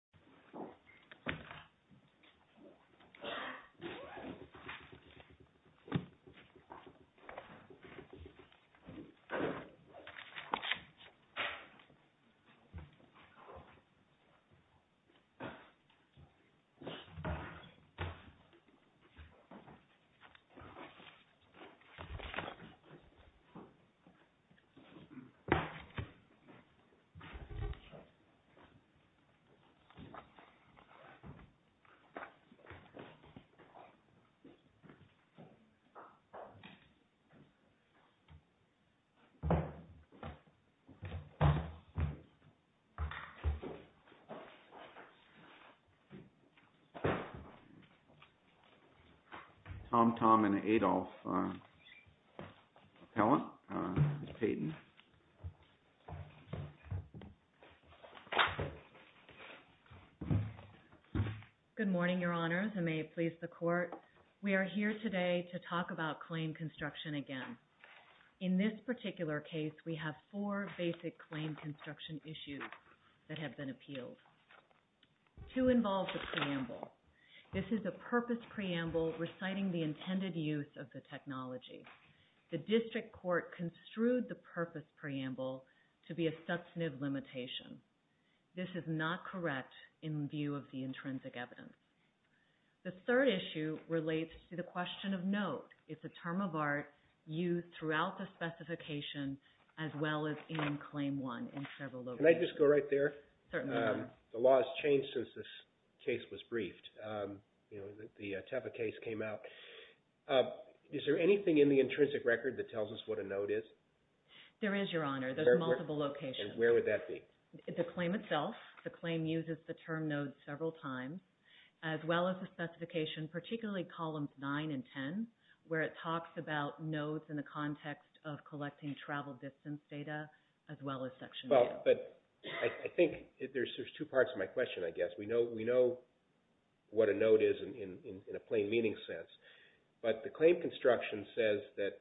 along 2015-2019 recent attendance. TomTom, Inc. v. Adolph. Allen Captain Good morning, Your Honors, and may it please the Court. We are here today to talk about claim construction again. In this particular case, we have four basic claim construction issues that have been appealed. Two involve the preamble. This is a purpose preamble reciting the intended use of the technology. The district court construed the purpose preamble to be a substantive limitation. This is not correct in view of the intrinsic evidence. The third issue relates to the question of note. It's a term of art used throughout the specification as well as in Claim 1 in several locations. Can I just go right there? Certainly, Your Honor. The law has changed since this case was briefed. You know, the Teva case came out. Is there anything in the intrinsic record that tells us what a note is? There is, Your Honor. There's multiple locations. And where would that be? The claim itself. The claim uses the term note several times as well as the specification, particularly columns 9 and 10, where it talks about notes in the context of collecting travel distance data as well as section 10. Well, but I think there's two parts to my question, I guess. We know what a note is in a plain meaning sense, but the claim construction says that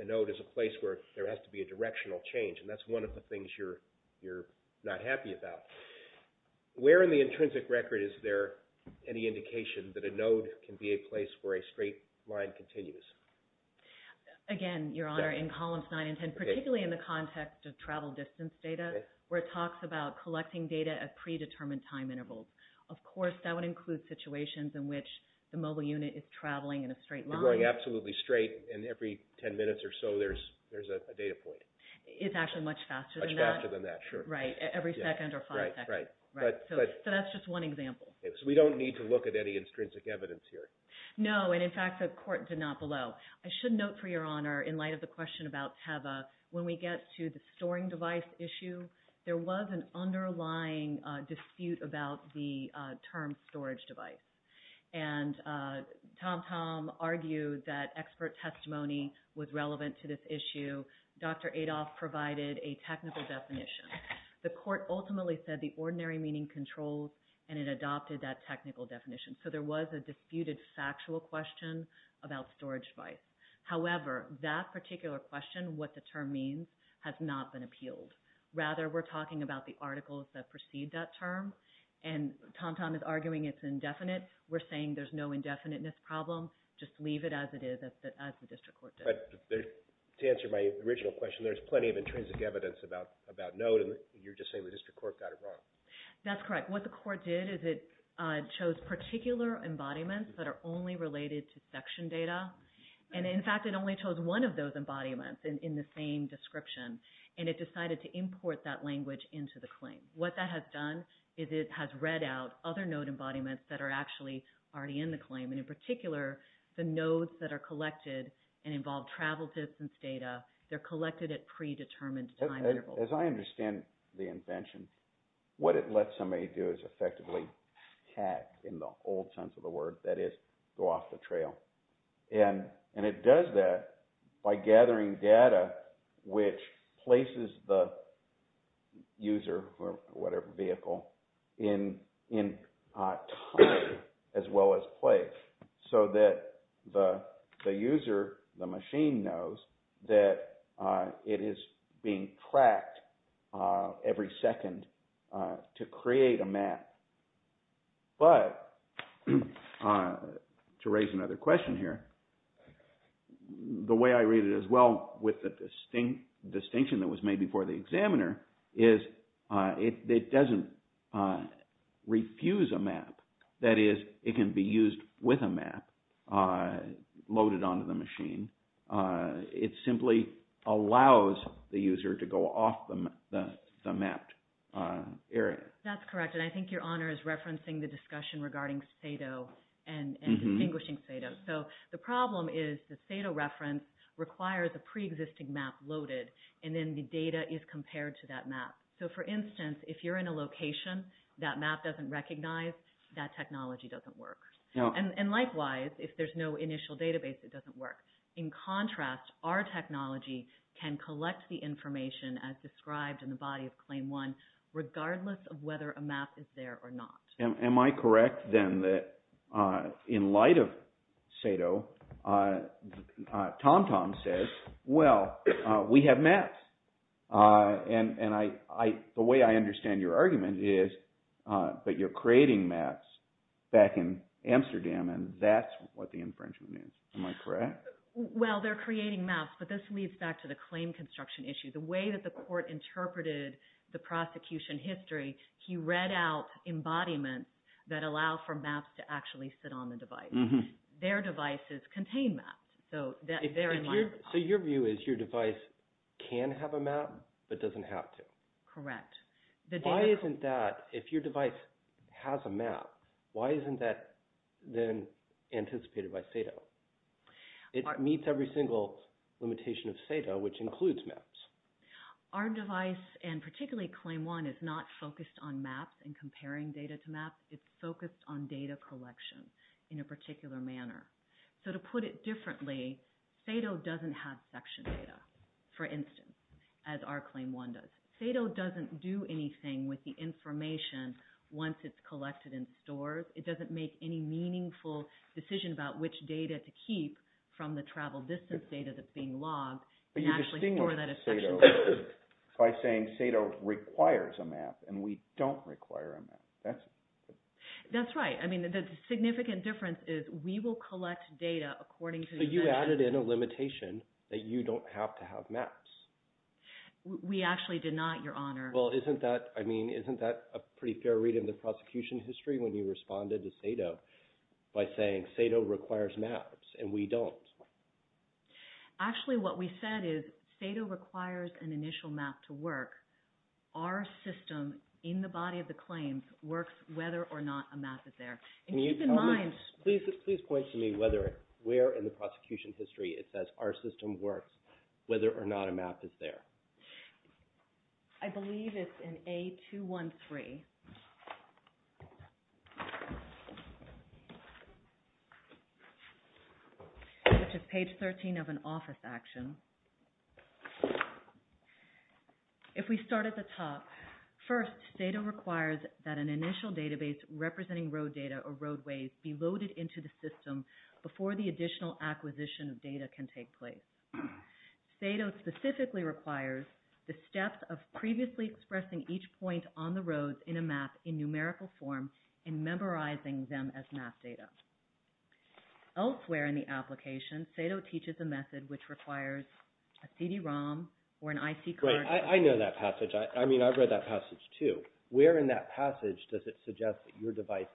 a note is a place where there has to be a directional change, and that's one of the things you're not happy about. Where in the intrinsic record is there any indication that a note can be a place where a straight line continues? Again, Your Honor, in columns 9 and 10, particularly in the context of travel distance data, where it talks about collecting data at predetermined time intervals. Of course, that would include situations in which the mobile unit is traveling in a straight line. You're going absolutely straight, and every 10 minutes or so there's a data point. It's actually much faster than that. Much faster than that, sure. Right, every second or five seconds. Right, right. So that's just one example. So we don't need to look at any intrinsic evidence here? No, and in fact the court did not below. I should note for Your Honor, in light of the question about Teva, when we get to the storing device issue, there was an underlying dispute about the term storage device. And Tom Tom argued that expert testimony was relevant to this issue. Dr. Adolph provided a technical definition. The court ultimately said the ordinary meaning controls, and it adopted that technical definition. So there was a disputed factual question about storage device. However, that particular question, what the term means, has not been appealed. Rather, we're talking about the articles that precede that term, and Tom Tom is arguing it's indefinite. We're saying there's no But to answer my original question, there's plenty of intrinsic evidence about node, and you're just saying the district court got it wrong. That's correct. What the court did is it chose particular embodiments that are only related to section data. And in fact, it only chose one of those embodiments in the same description, and it decided to import that language into the claim. What that has done is it has read out other node embodiments that are actually already in the claim. And in particular, the nodes that are collected and involve travel distance data, they're collected at predetermined time intervals. As I understand the invention, what it lets somebody do is effectively hack, in the old sense of the word, that is, go off the trail. And it does that by gathering data which places the user or whatever vehicle in time as well as place so that the user, the machine, knows that it is being tracked every second to create a map. But to raise another question here, the way I read it as well with the distinction that was made before the examiner is it doesn't refuse a map. That is, it can be used with a map loaded onto the machine. It simply allows the user to go off the mapped area. That's correct, and I think your honor is referencing the discussion regarding Sado and distinguishing Sado. So the problem is the Sado reference requires a preexisting map loaded, and then the data is compared to that map. So for instance, if you're in a location, that map doesn't recognize, that technology doesn't work. And likewise, if there's no initial database, it doesn't work. In contrast, our technology can collect the information as described in the body of Claim 1 regardless of whether a map is there or not. Am I correct then that in light of Sado, TomTom says, well, we have maps. And the way I understand your argument is that you're creating maps back in Amsterdam, and that's what the infringement is. Am I correct? Well, they're creating maps, but this leads back to the claim construction issue. The way that the court interpreted the prosecution history, he read out embodiments that allow for maps to actually sit on the device. Their devices contain maps, so they're in line with that. So your view is your device can have a map but doesn't have to? Correct. Why isn't that, if your device has a map, why isn't that then anticipated by Sado? It meets every single limitation of Sado, which includes maps. Our device, and particularly Claim 1, is not focused on maps and comparing data to maps. It's focused on data collection in a particular manner. So to put it differently, Sado doesn't have section data, for instance, as our Claim 1 does. Sado doesn't do anything with the information once it's collected in stores. It doesn't make any meaningful decision about which data to keep from the travel distance data that's being logged. But you distinguish Sado by saying Sado requires a map, and we don't require a map. That's right. I mean, the significant difference is we will collect data according to the section. So you added in a limitation that you don't have to have maps. We actually did not, Your Honor. Well, isn't that, I mean, isn't that a pretty fair read in the prosecution history when you responded to Sado by saying Sado requires maps, and we don't? Actually, what we said is Sado requires an initial map to work. Our system, in the body of the claims, works whether or not a map is there. And keep in mind… Please point to me whether, where in the prosecution history it says our system works, whether or not a map is there. I believe it's in A213, which is page 13 of an office action. If we start at the top, first, Sado requires that an initial database representing road data or roadways be loaded into the system before the additional acquisition of data can take place. Sado specifically requires the steps of previously expressing each point on the roads in a map in numerical form and memorizing them as map data. Elsewhere in the application, Sado teaches a method which requires a CD-ROM or an IC card… Right, I know that passage. I mean, I've read that passage, too. Where in that passage does it suggest that your device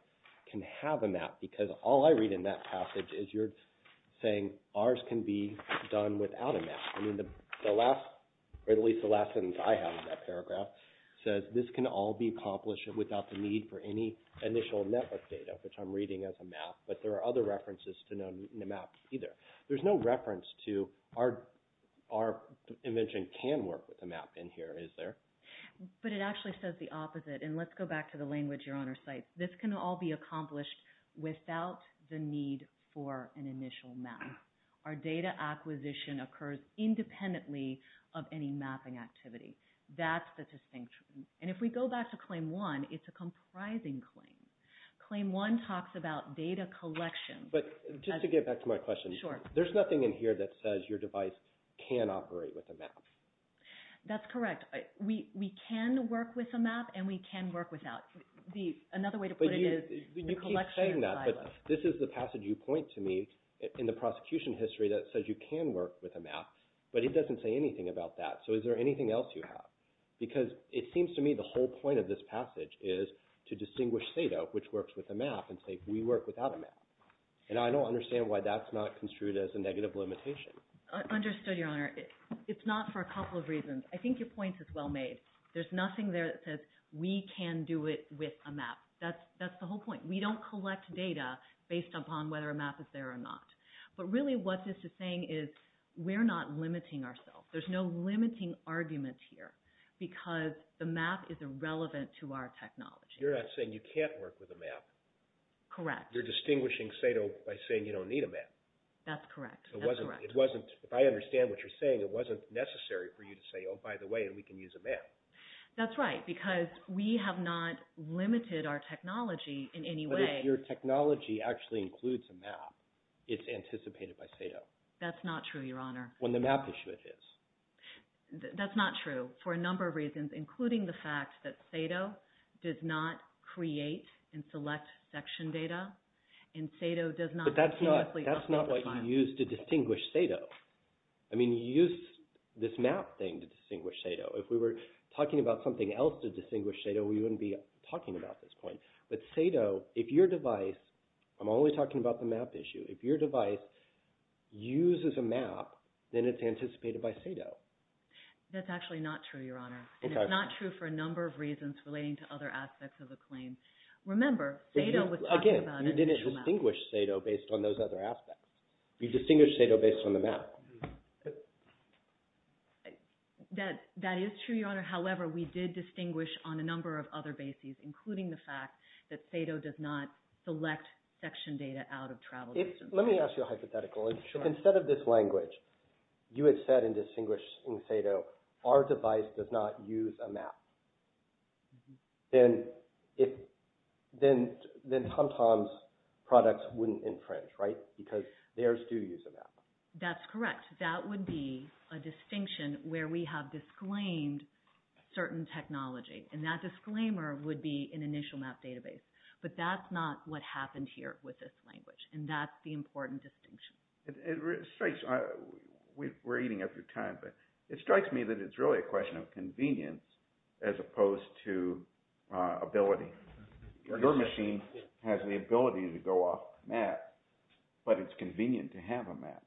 can have a map? Because all I read in that passage is you're saying ours can be done without a map. I mean, the last, or at least the last sentence I have in that paragraph, says this can all be accomplished without the need for any initial network data, which I'm reading as a map. But there are other references to maps, either. There's no reference to our invention can work with a map in here, is there? But it actually says the opposite. And let's go back to the language Your Honor cites. This can all be accomplished without the need for an initial map. Our data acquisition occurs independently of any mapping activity. That's the distinction. And if we go back to Claim 1, it's a comprising claim. Claim 1 talks about data collection. But just to get back to my question. Sure. There's nothing in here that says your device can operate with a map. That's correct. We can work with a map and we can work without. Another way to put it is the collection is violent. You keep saying that, but this is the passage you point to me in the prosecution history that says you can work with a map, but it doesn't say anything about that. So is there anything else you have? Because it seems to me the whole point of this passage is to distinguish Theda, which works with a map, and say we work without a map. And I don't understand why that's not construed as a negative limitation. Understood, Your Honor. It's not for a couple of reasons. I think your point is well made. There's nothing there that says we can do it with a map. That's the whole point. We don't collect data based upon whether a map is there or not. But really what this is saying is we're not limiting ourselves. There's no limiting arguments here because the map is irrelevant to our technology. You're not saying you can't work with a map. Correct. You're distinguishing Theda by saying you don't need a map. That's correct. If I understand what you're saying, it wasn't necessary for you to say, well, by the way, we can use a map. That's right because we have not limited our technology in any way. But if your technology actually includes a map, it's anticipated by Theda. That's not true, Your Honor. When the map is who it is. That's not true for a number of reasons, including the fact that Theda does not create and select section data, and Theda does not continuously update the file. But that's not what you use to distinguish Theda. I mean, you use this map thing to distinguish Theda. If we were talking about something else to distinguish Theda, we wouldn't be talking about this point. But Theda, if your device, I'm only talking about the map issue, if your device uses a map, then it's anticipated by Theda. That's actually not true, Your Honor. And it's not true for a number of reasons relating to other aspects of the claim. Remember, Theda was talking about a map. Again, you didn't distinguish Theda based on those other aspects. You distinguished Theda based on the map. That is true, Your Honor. However, we did distinguish on a number of other bases, including the fact that Theda does not select section data out of travel distance. Let me ask you a hypothetical. Sure. If instead of this language, you had said in distinguishing Theda, our device does not use a map, then TomTom's products wouldn't infringe, right? Because theirs do use a map. That's correct. That would be a distinction where we have disclaimed certain technology. And that disclaimer would be an initial map database. But that's not what happened here with this language. And that's the important distinction. It strikes, we're eating up your time, but it strikes me that it's really a question of convenience as opposed to ability. Your machine has the ability to go off the map, but it's convenient to have a map.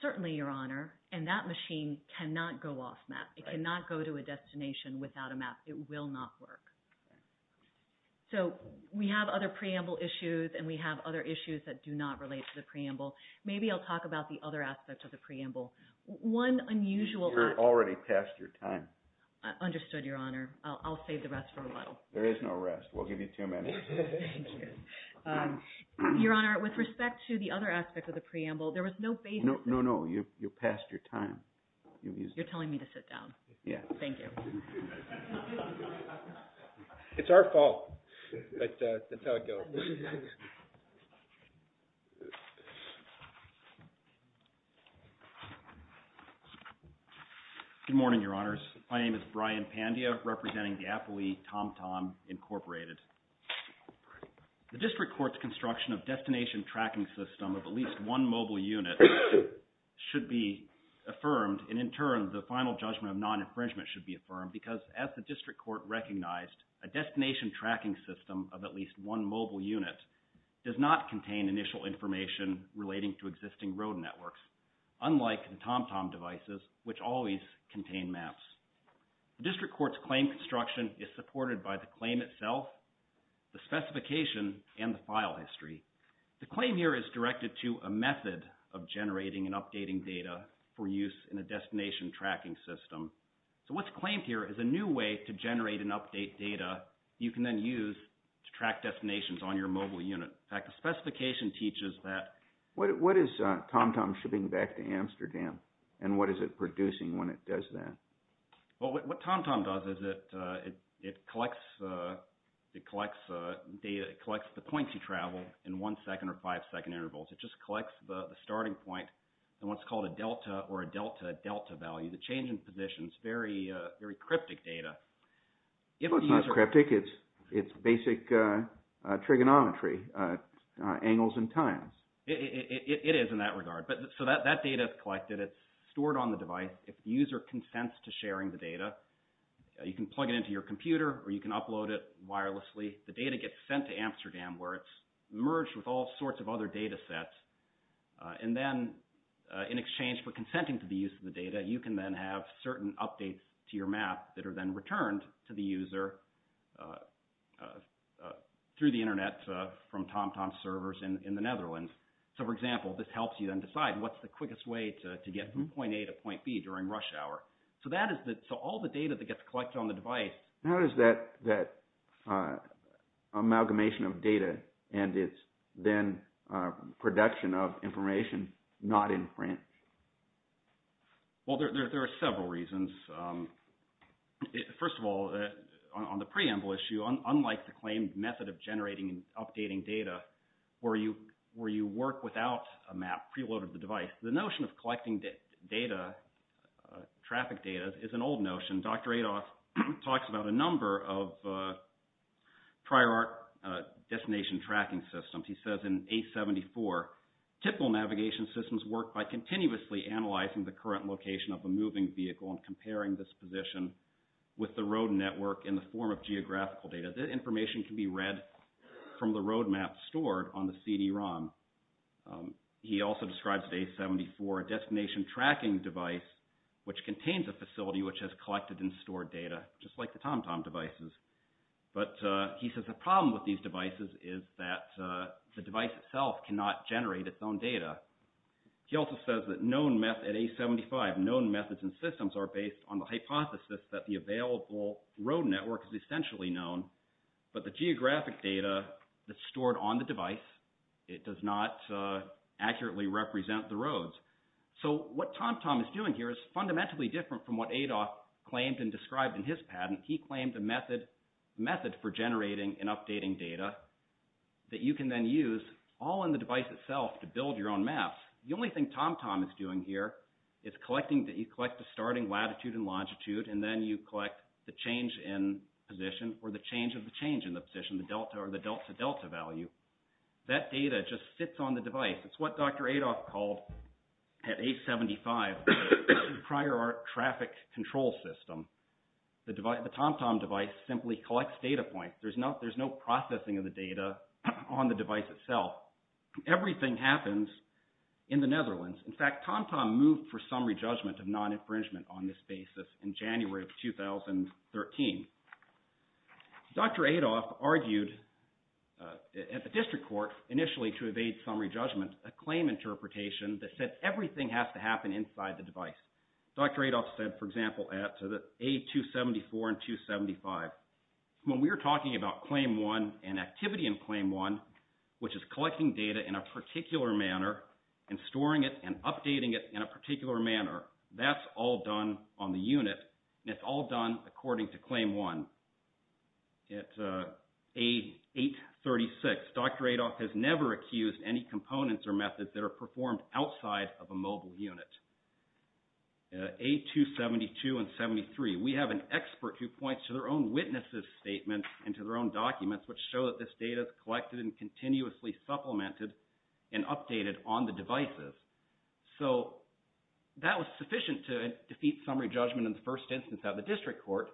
Certainly, Your Honor. And that machine cannot go off map. It cannot go to a destination without a map. It will not work. So we have other preamble issues, and we have other issues that do not relate to the preamble. Maybe I'll talk about the other aspect of the preamble. One unusual aspect. You're already past your time. Understood, Your Honor. There is no rest. We'll give you two minutes. Thank you. Your Honor, with respect to the other aspect of the preamble, there was no basis. No, no, no. You're past your time. You're telling me to sit down. Yeah. Thank you. It's our fault. But that's how it goes. Good morning, Your Honors. My name is Brian Pandia, representing the Appley TomTom Incorporated. The district court's construction of destination tracking system of at least one mobile unit should be affirmed, and in turn, the final judgment of non-infringement should be affirmed because, as the district court recognized, a destination tracking system of at least one mobile unit does not contain initial information relating to existing road networks, unlike the TomTom devices, which always contain maps. The district court's claim construction is supported by the claim itself the specification, and the file history. The claim here is directed to a method of generating and updating data for use in a destination tracking system. So what's claimed here is a new way to generate and update data you can then use to track destinations on your mobile unit. In fact, the specification teaches that. What is TomTom shipping back to Amsterdam, and what is it producing when it does that? Well, what TomTom does is it collects the points you travel in one second or five second intervals. It just collects the starting point, and what's called a delta, or a delta delta value, the change in positions. Very cryptic data. It's not cryptic, it's basic trigonometry, angles and times. It is in that regard. So that data is collected, it's stored on the device. If the user consents to sharing the data, you can plug it into your computer, or you can upload it wirelessly. The data gets sent to Amsterdam, where it's merged with all sorts of other data sets. And then in exchange for consenting to the use of the data, you can then have certain updates to your map that are then returned to the user through the internet from TomTom's servers in the Netherlands. So for example, this helps you then decide what's the quickest way to get from point A to point B during rush hour. So all the data that gets collected on the device… How does that amalgamation of data and its then production of information not infringe? Well, there are several reasons. First of all, on the preamble issue, unlike the claimed method of generating and updating data where you work without a map preloaded to the device, the notion of collecting traffic data is an old notion. Dr. Adolf talks about a number of prior art destination tracking systems. He says in A74, typical navigation systems work by continuously analyzing the current location of a moving vehicle and comparing this position with the road network in the form of geographical data. The information can be read from the road map stored on the CD-ROM. He also describes the A74 destination tracking device which contains a facility which has collected and stored data just like the TomTom devices. But he says the problem with these devices is that the device itself cannot generate its own data. He also says that known methods… At A75, known methods and systems are based on the hypothesis that the available road network is essentially known, but the geographic data that's stored on the device, it does not accurately represent the roads. So what TomTom is doing here is fundamentally different from what Adolf claimed and described in his patent. He claimed a method for generating and updating data that you can then use all in the device itself to build your own maps. The only thing TomTom is doing here is that you collect the starting latitude and longitude and then you collect the change in position or the change of the change in the position, the delta or the delta-delta value. That data just sits on the device. It's what Dr. Adolf called, at A75, prior art traffic control system. The TomTom device simply collects data points. There's no processing of the data on the device itself. Everything happens in the Netherlands. In fact, TomTom moved for summary judgment of non-infringement on this basis in January of 2013. Dr. Adolf argued at the district court, initially to evade summary judgment, a claim interpretation that said everything has to happen inside the device. Dr. Adolf said, for example, at A274 and 275, when we're talking about Claim 1 and activity in Claim 1, which is collecting data in a particular manner and storing it and updating it in a particular manner, that's all done on the unit. It's all done according to Claim 1. At A836, Dr. Adolf has never accused any components or methods that are performed outside of a mobile unit. A272 and 73, we have an expert who points to their own witnesses' statements and to their own documents, which show that this data is collected and continuously supplemented and updated on the devices. So that was sufficient to defeat summary judgment in the first instance at the district court,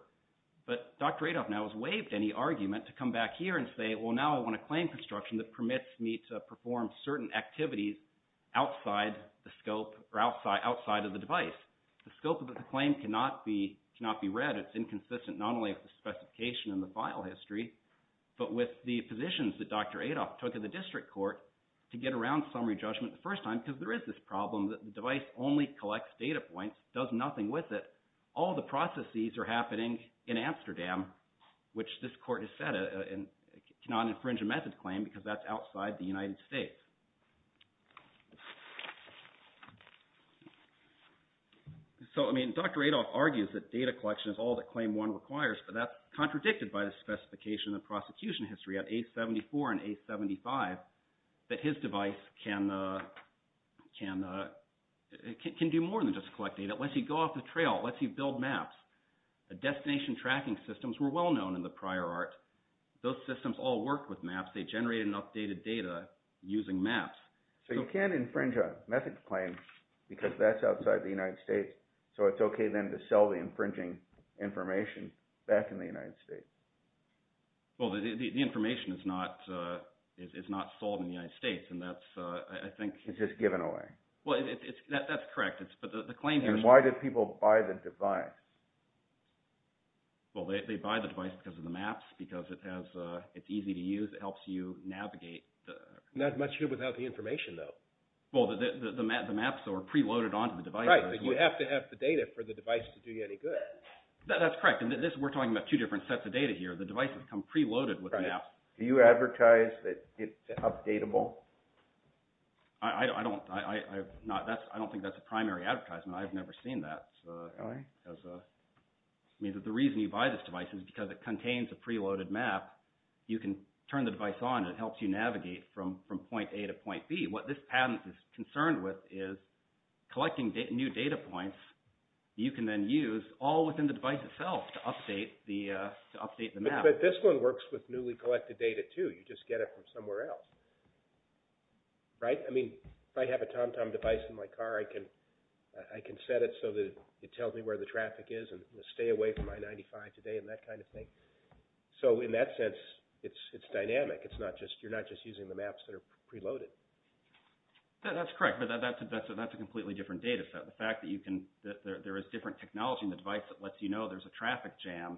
but Dr. Adolf now has waived any argument to come back here and say, well, now I want a claim construction that permits me to perform certain activities outside the scope or outside of the device. The scope of the claim cannot be read. It's inconsistent not only with the specification and the file history, but with the positions that Dr. Adolf took at the district court to get around summary judgment the first time because there is this problem that the device only collects data points, does nothing with it. All the processes are happening in Amsterdam, which this court has said cannot infringe a method claim because that's outside the United States. So, I mean, Dr. Adolf argues that data collection is all that Claim 1 requires, but that's contradicted by the specification and the prosecution history at A74 and A75 that his device can do more than just collect data. It lets you go off the trail. It lets you build maps. The destination tracking systems were well-known in the prior art. Those systems all worked with maps. They generated and updated data using maps. So you can't infringe a method claim because that's outside the United States, so it's okay then to sell the infringing information back in the United States. Well, the information is not sold in the United States, and that's, I think— It's just given away. Well, that's correct. But the claim here is— And why did people buy the device? Well, they buy the device because of the maps, because it's easy to use. It helps you navigate. Not much here without the information, though. Well, the maps, though, are preloaded onto the device. Right, but you have to have the data for the device to do you any good. That's correct. We're talking about two different sets of data here. The devices come preloaded with maps. Do you advertise that it's updatable? I don't. I don't think that's a primary advertisement. I've never seen that. Really? I mean, the reason you buy this device is because it contains a preloaded map. You can turn the device on, and it helps you navigate from point A to point B. What this patent is concerned with is collecting new data points that you can then use all within the device itself to update the map. But this one works with newly collected data, too. You just get it from somewhere else. Right? I mean, if I have a TomTom device in my car, I can set it so that it tells me where the traffic is and stay away from I-95 today and that kind of thing. So in that sense, it's dynamic. You're not just using the maps that are preloaded. That's correct, but that's a completely different data set. The fact that there is different technology in the device that lets you know there's a traffic jam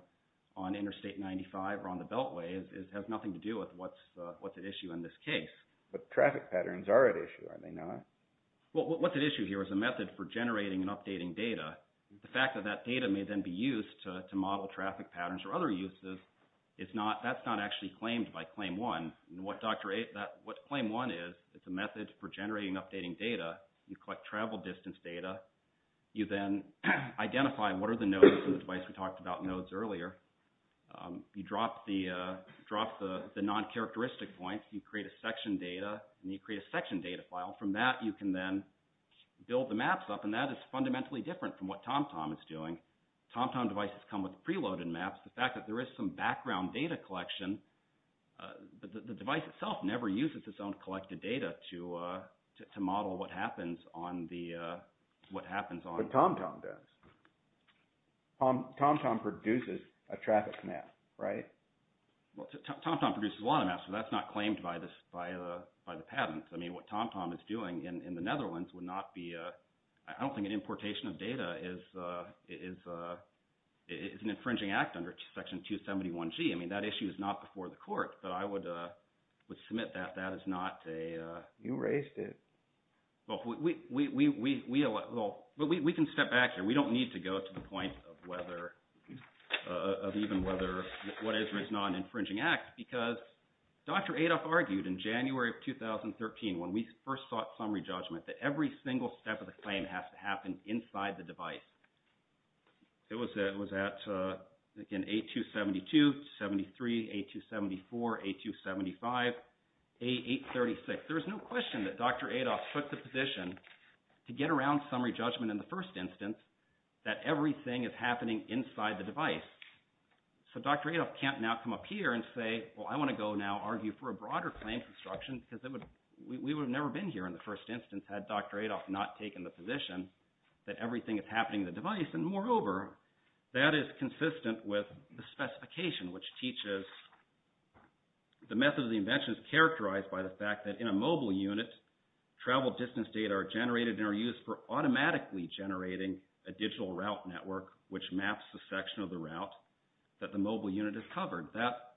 on Interstate 95 or on the Beltway has nothing to do with what's at issue in this case. But traffic patterns are at issue, are they not? Well, what's at issue here is a method for generating and updating data. The fact that that data may then be used to model traffic patterns or other uses, that's not actually claimed by Claim 1. What Claim 1 is, it's a method for generating and updating data. You collect travel distance data. You then identify what are the nodes in the device we talked about nodes earlier. You drop the non-characteristic points. You create a section data, and you create a section data file. From that, you can then build the maps up, and that is fundamentally different from what TomTom is doing. TomTom devices come with preloaded maps. The fact that there is some background data collection, the device itself never uses its own collected data to model what happens on the... What TomTom does. TomTom produces a traffic map, right? Well, TomTom produces a lot of maps, but that's not claimed by the patents. I mean, what TomTom is doing in the Netherlands would not be... I don't think an importation of data is an infringing act under Section 271G. I mean, that issue is not before the court, but I would submit that that is not a... You raised it. Well, we can step back here. We don't need to go to the point of whether... of even whether what is or is not an infringing act because Dr. Adolf argued in January of 2013 when we first sought summary judgment that every single step of the claim has to happen inside the device. It was at, again, A272, A73, A274, A275, A836. There is no question that Dr. Adolf took the position to get around summary judgment in the first instance that everything is happening inside the device. So Dr. Adolf can't now come up here and say, well, I want to go now argue for a broader claim construction because we would have never been here in the first instance had Dr. Adolf not taken the position that everything is happening in the device. And moreover, that is consistent with the specification which teaches the method of the invention is characterized by the fact that in a mobile unit, travel distance data are generated and are used for automatically generating a digital route network which maps the section of the route that the mobile unit is covered.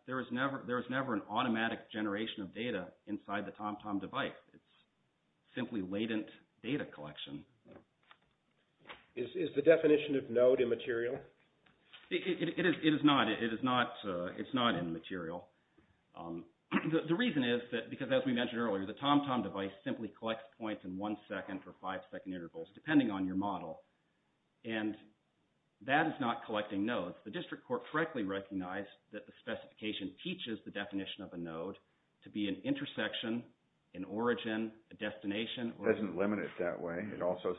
There is never an automatic generation of data inside the TomTom device. It's simply latent data collection. Is the definition of node immaterial? It is not. It is not immaterial. The reason is that because as we mentioned earlier, the TomTom device simply collects points in one second or five second intervals depending on your model. And that is not collecting nodes. The district court correctly recognized that the specification teaches the definition of a node to be an intersection, an origin, a destination. It doesn't limit it that way. It also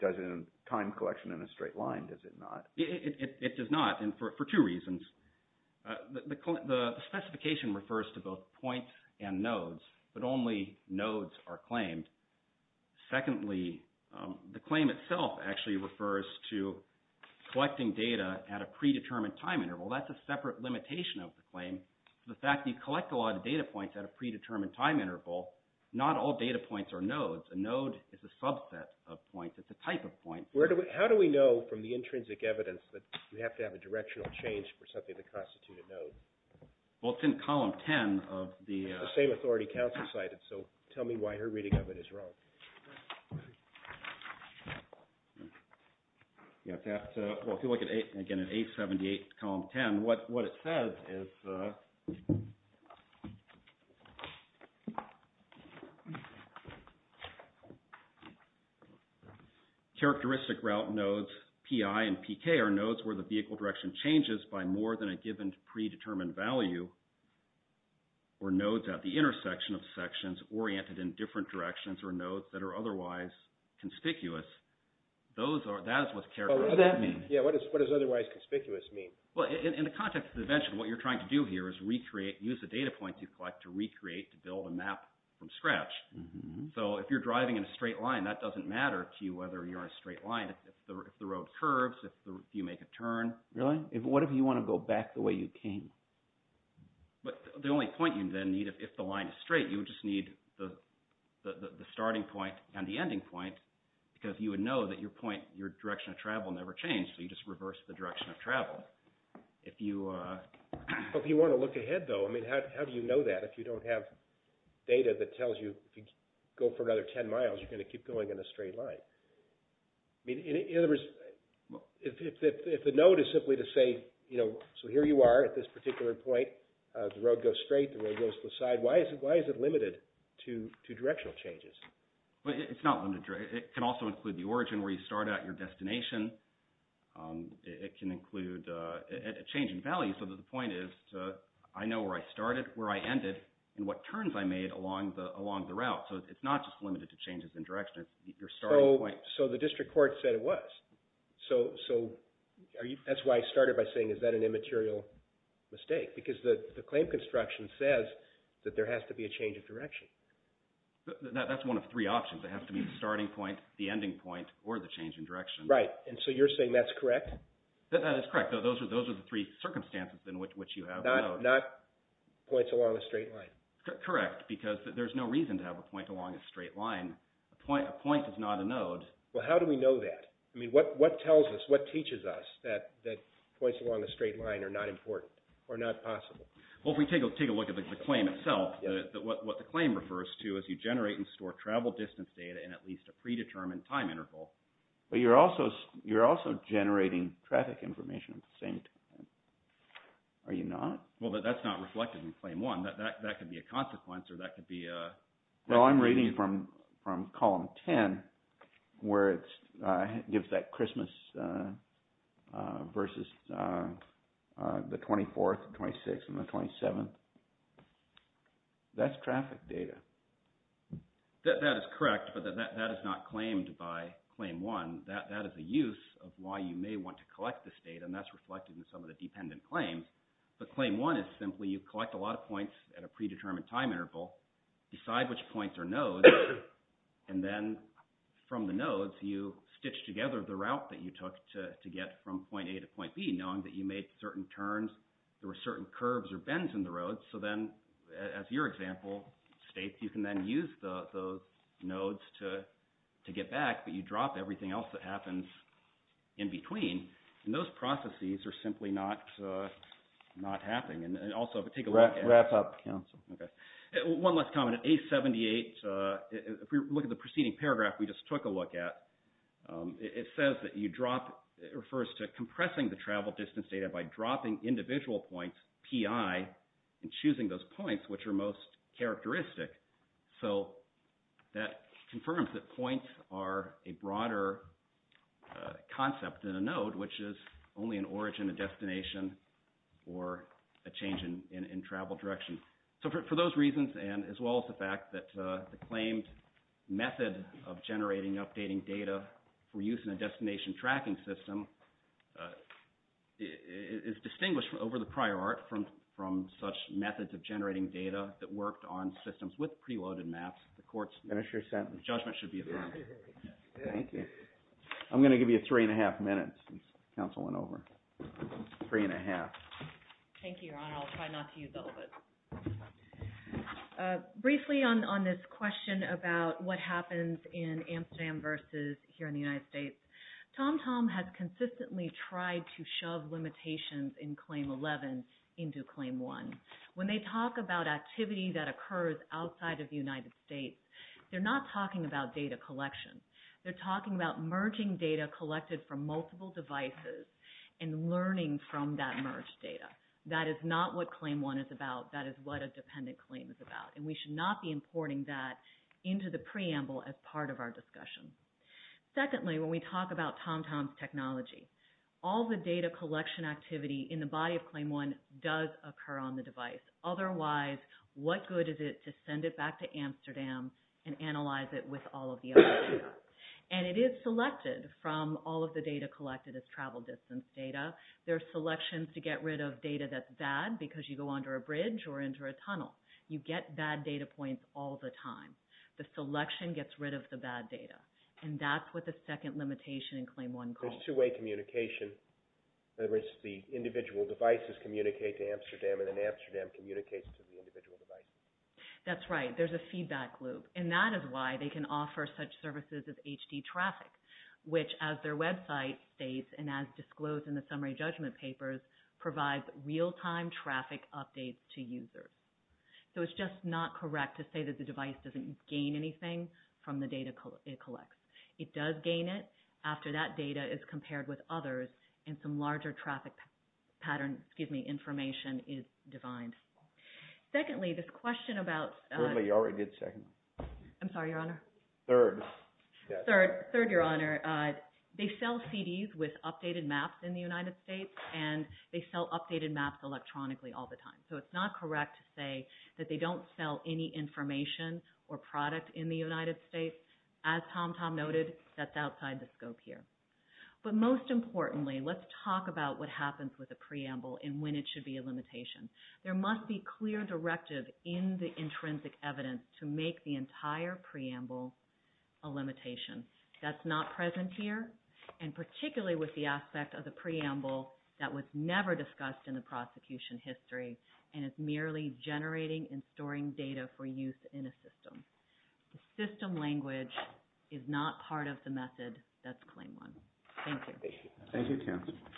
doesn't time collection in a straight line, does it not? It does not. And for two reasons. The specification refers to both points and nodes, but only nodes are claimed. Secondly, the claim itself actually refers to collecting data at a predetermined time interval. That's a separate limitation of the claim. The fact that you collect a lot of data points at a predetermined time interval, not all data points are nodes. A node is a subset of points. It's a type of point. How do we know from the intrinsic evidence that you have to have a directional change for something that constitutes a node? Well, it's in column 10 of the... It's the same authority counsel cited, so tell me why her reading of it is wrong. Well, if you look again at 878, column 10, what it says is... Characteristic route nodes PI and PK are nodes where the vehicle direction changes by more than a given predetermined value or nodes at the intersection of sections oriented in different directions or nodes that are otherwise conspicuous. That is what characteristic means. Yeah, what does otherwise conspicuous mean? Well, in the context of the invention, what you're trying to do here is recreate, use the data points you collect to recreate to build a map from scratch. So if you're driving in a straight line, that doesn't matter to you whether you're on a straight line. If the road curves, if you make a turn... Really? What if you want to go back the way you came? But the only point you then need, if the line is straight, you would just need the starting point and the ending point, because you would know that your point, your direction of travel never changed, so you just reverse the direction of travel. But if you want to look ahead, though, I mean, how do you know that if you don't have data that tells you if you go for another 10 miles, you're going to keep going in a straight line? I mean, in other words, if the node is simply to say, you know, so here you are at this particular point, the road goes straight, the road goes to the side, why is it limited to directional changes? Well, it's not limited. It can also include the origin, where you start at, your destination. It can include a change in value, so that the point is, I know where I started, where I ended, and what turns I made along the route. So it's not just limited to changes in direction. It's your starting point. So the district court said it was. So that's why I started by saying, is that an immaterial mistake? Because the claim construction says that there has to be a change of direction. That's one of three options. It has to be the starting point, the ending point, or the change in direction. Right, and so you're saying that's correct? That is correct. Those are the three circumstances in which you have a node. Not points along a straight line. Correct, because there's no reason to have a point along a straight line. A point is not a node. Well, how do we know that? I mean, what teaches us that points along a straight line are not important, or not possible? Well, if we take a look at the claim itself, what the claim refers to is you generate and store travel distance data in at least a predetermined time interval. But you're also generating traffic information at the same time. Are you not? Well, that's not reflected in Claim 1. That could be a consequence, or that could be a... Well, I'm reading from Column 10, where it gives that Christmas versus the 24th, the 26th, and the 27th. That's traffic data. That is correct, but that is not claimed by Claim 1. That is a use of why you may want to collect this data, and that's reflected in some of the dependent claims. But Claim 1 is simply you collect a lot of points at a predetermined time interval, decide which points are nodes, and then from the nodes you stitch together the route that you took to get from point A to point B, knowing that you made certain turns, there were certain curves or bends in the road, so then, as your example states, you can then use those nodes to get back, but you drop everything else that happens in between, and those processes are simply not happening. And also, if we take a look at... Wrap up, counsel. One last comment. If we look at the preceding paragraph we just took a look at, it says that you drop... It refers to compressing the travel distance data by dropping individual points, PI, and choosing those points which are most characteristic. That confirms that points are a broader concept than a node, which is only an origin, a destination, or a change in travel direction. For those reasons, as well as the fact that the claimed method of generating and updating data for use in a destination tracking system is distinguished over the prior art from such methods of generating data that worked on systems with preloaded maps. The court's judgment should be affirmed. Thank you. I'm going to give you three and a half minutes since counsel went over. Three and a half. Thank you, Your Honor. I'll try not to use all of it. Briefly on this question about what happens in Amsterdam versus here in the United States, TomTom has consistently tried to shove limitations in Claim 11 into Claim 1. When they talk about activity that occurs outside of the United States, they're not talking about data collection. They're talking about merging data collected from multiple devices and learning from that merged data. That is not what Claim 1 is about. That is what a dependent claim is about. We should not be importing that into the preamble as part of our discussion. Secondly, when we talk about TomTom's technology, all the data collection activity in the body of Claim 1 does occur on the device. Otherwise, what good is it to send it back to Amsterdam and analyze it with all of the other data? It is selected from all of the data collected as travel distance data. There are selections to get rid of data that's bad because you go under a bridge or into a tunnel. You get bad data points all the time. The selection gets rid of the bad data. That's what the second limitation in Claim 1 calls for. There's two-way communication. The individual devices communicate to Amsterdam, and then Amsterdam communicates to the individual devices. That's right. There's a feedback loop. That is why they can offer such services as HD traffic, which, as their website states and as disclosed in the summary judgment papers, provides real-time traffic updates to users. It's just not correct to say that the device doesn't gain anything from the data it collects. It does gain it after that data is compared with others and some larger traffic pattern, excuse me, information is defined. Secondly, this question about... I'm sorry, Your Honor. Third. Third, Your Honor. They sell CDs with updated maps in the United States, and they sell updated maps electronically all the time. It's not correct to say that they don't sell any information or product in the United States. As Tom Tom noted, that's outside the scope here. But most importantly, let's talk about what happens with a preamble and when it should be a limitation. There must be clear directive in the intrinsic evidence to make the entire preamble a limitation. That's not present here, and particularly with the aspect of the preamble that was never discussed in the prosecution history, and it's merely generating and storing data for use in a system. The system language is not part of the method that's Claim 1. Thank you. Thank you, counsel.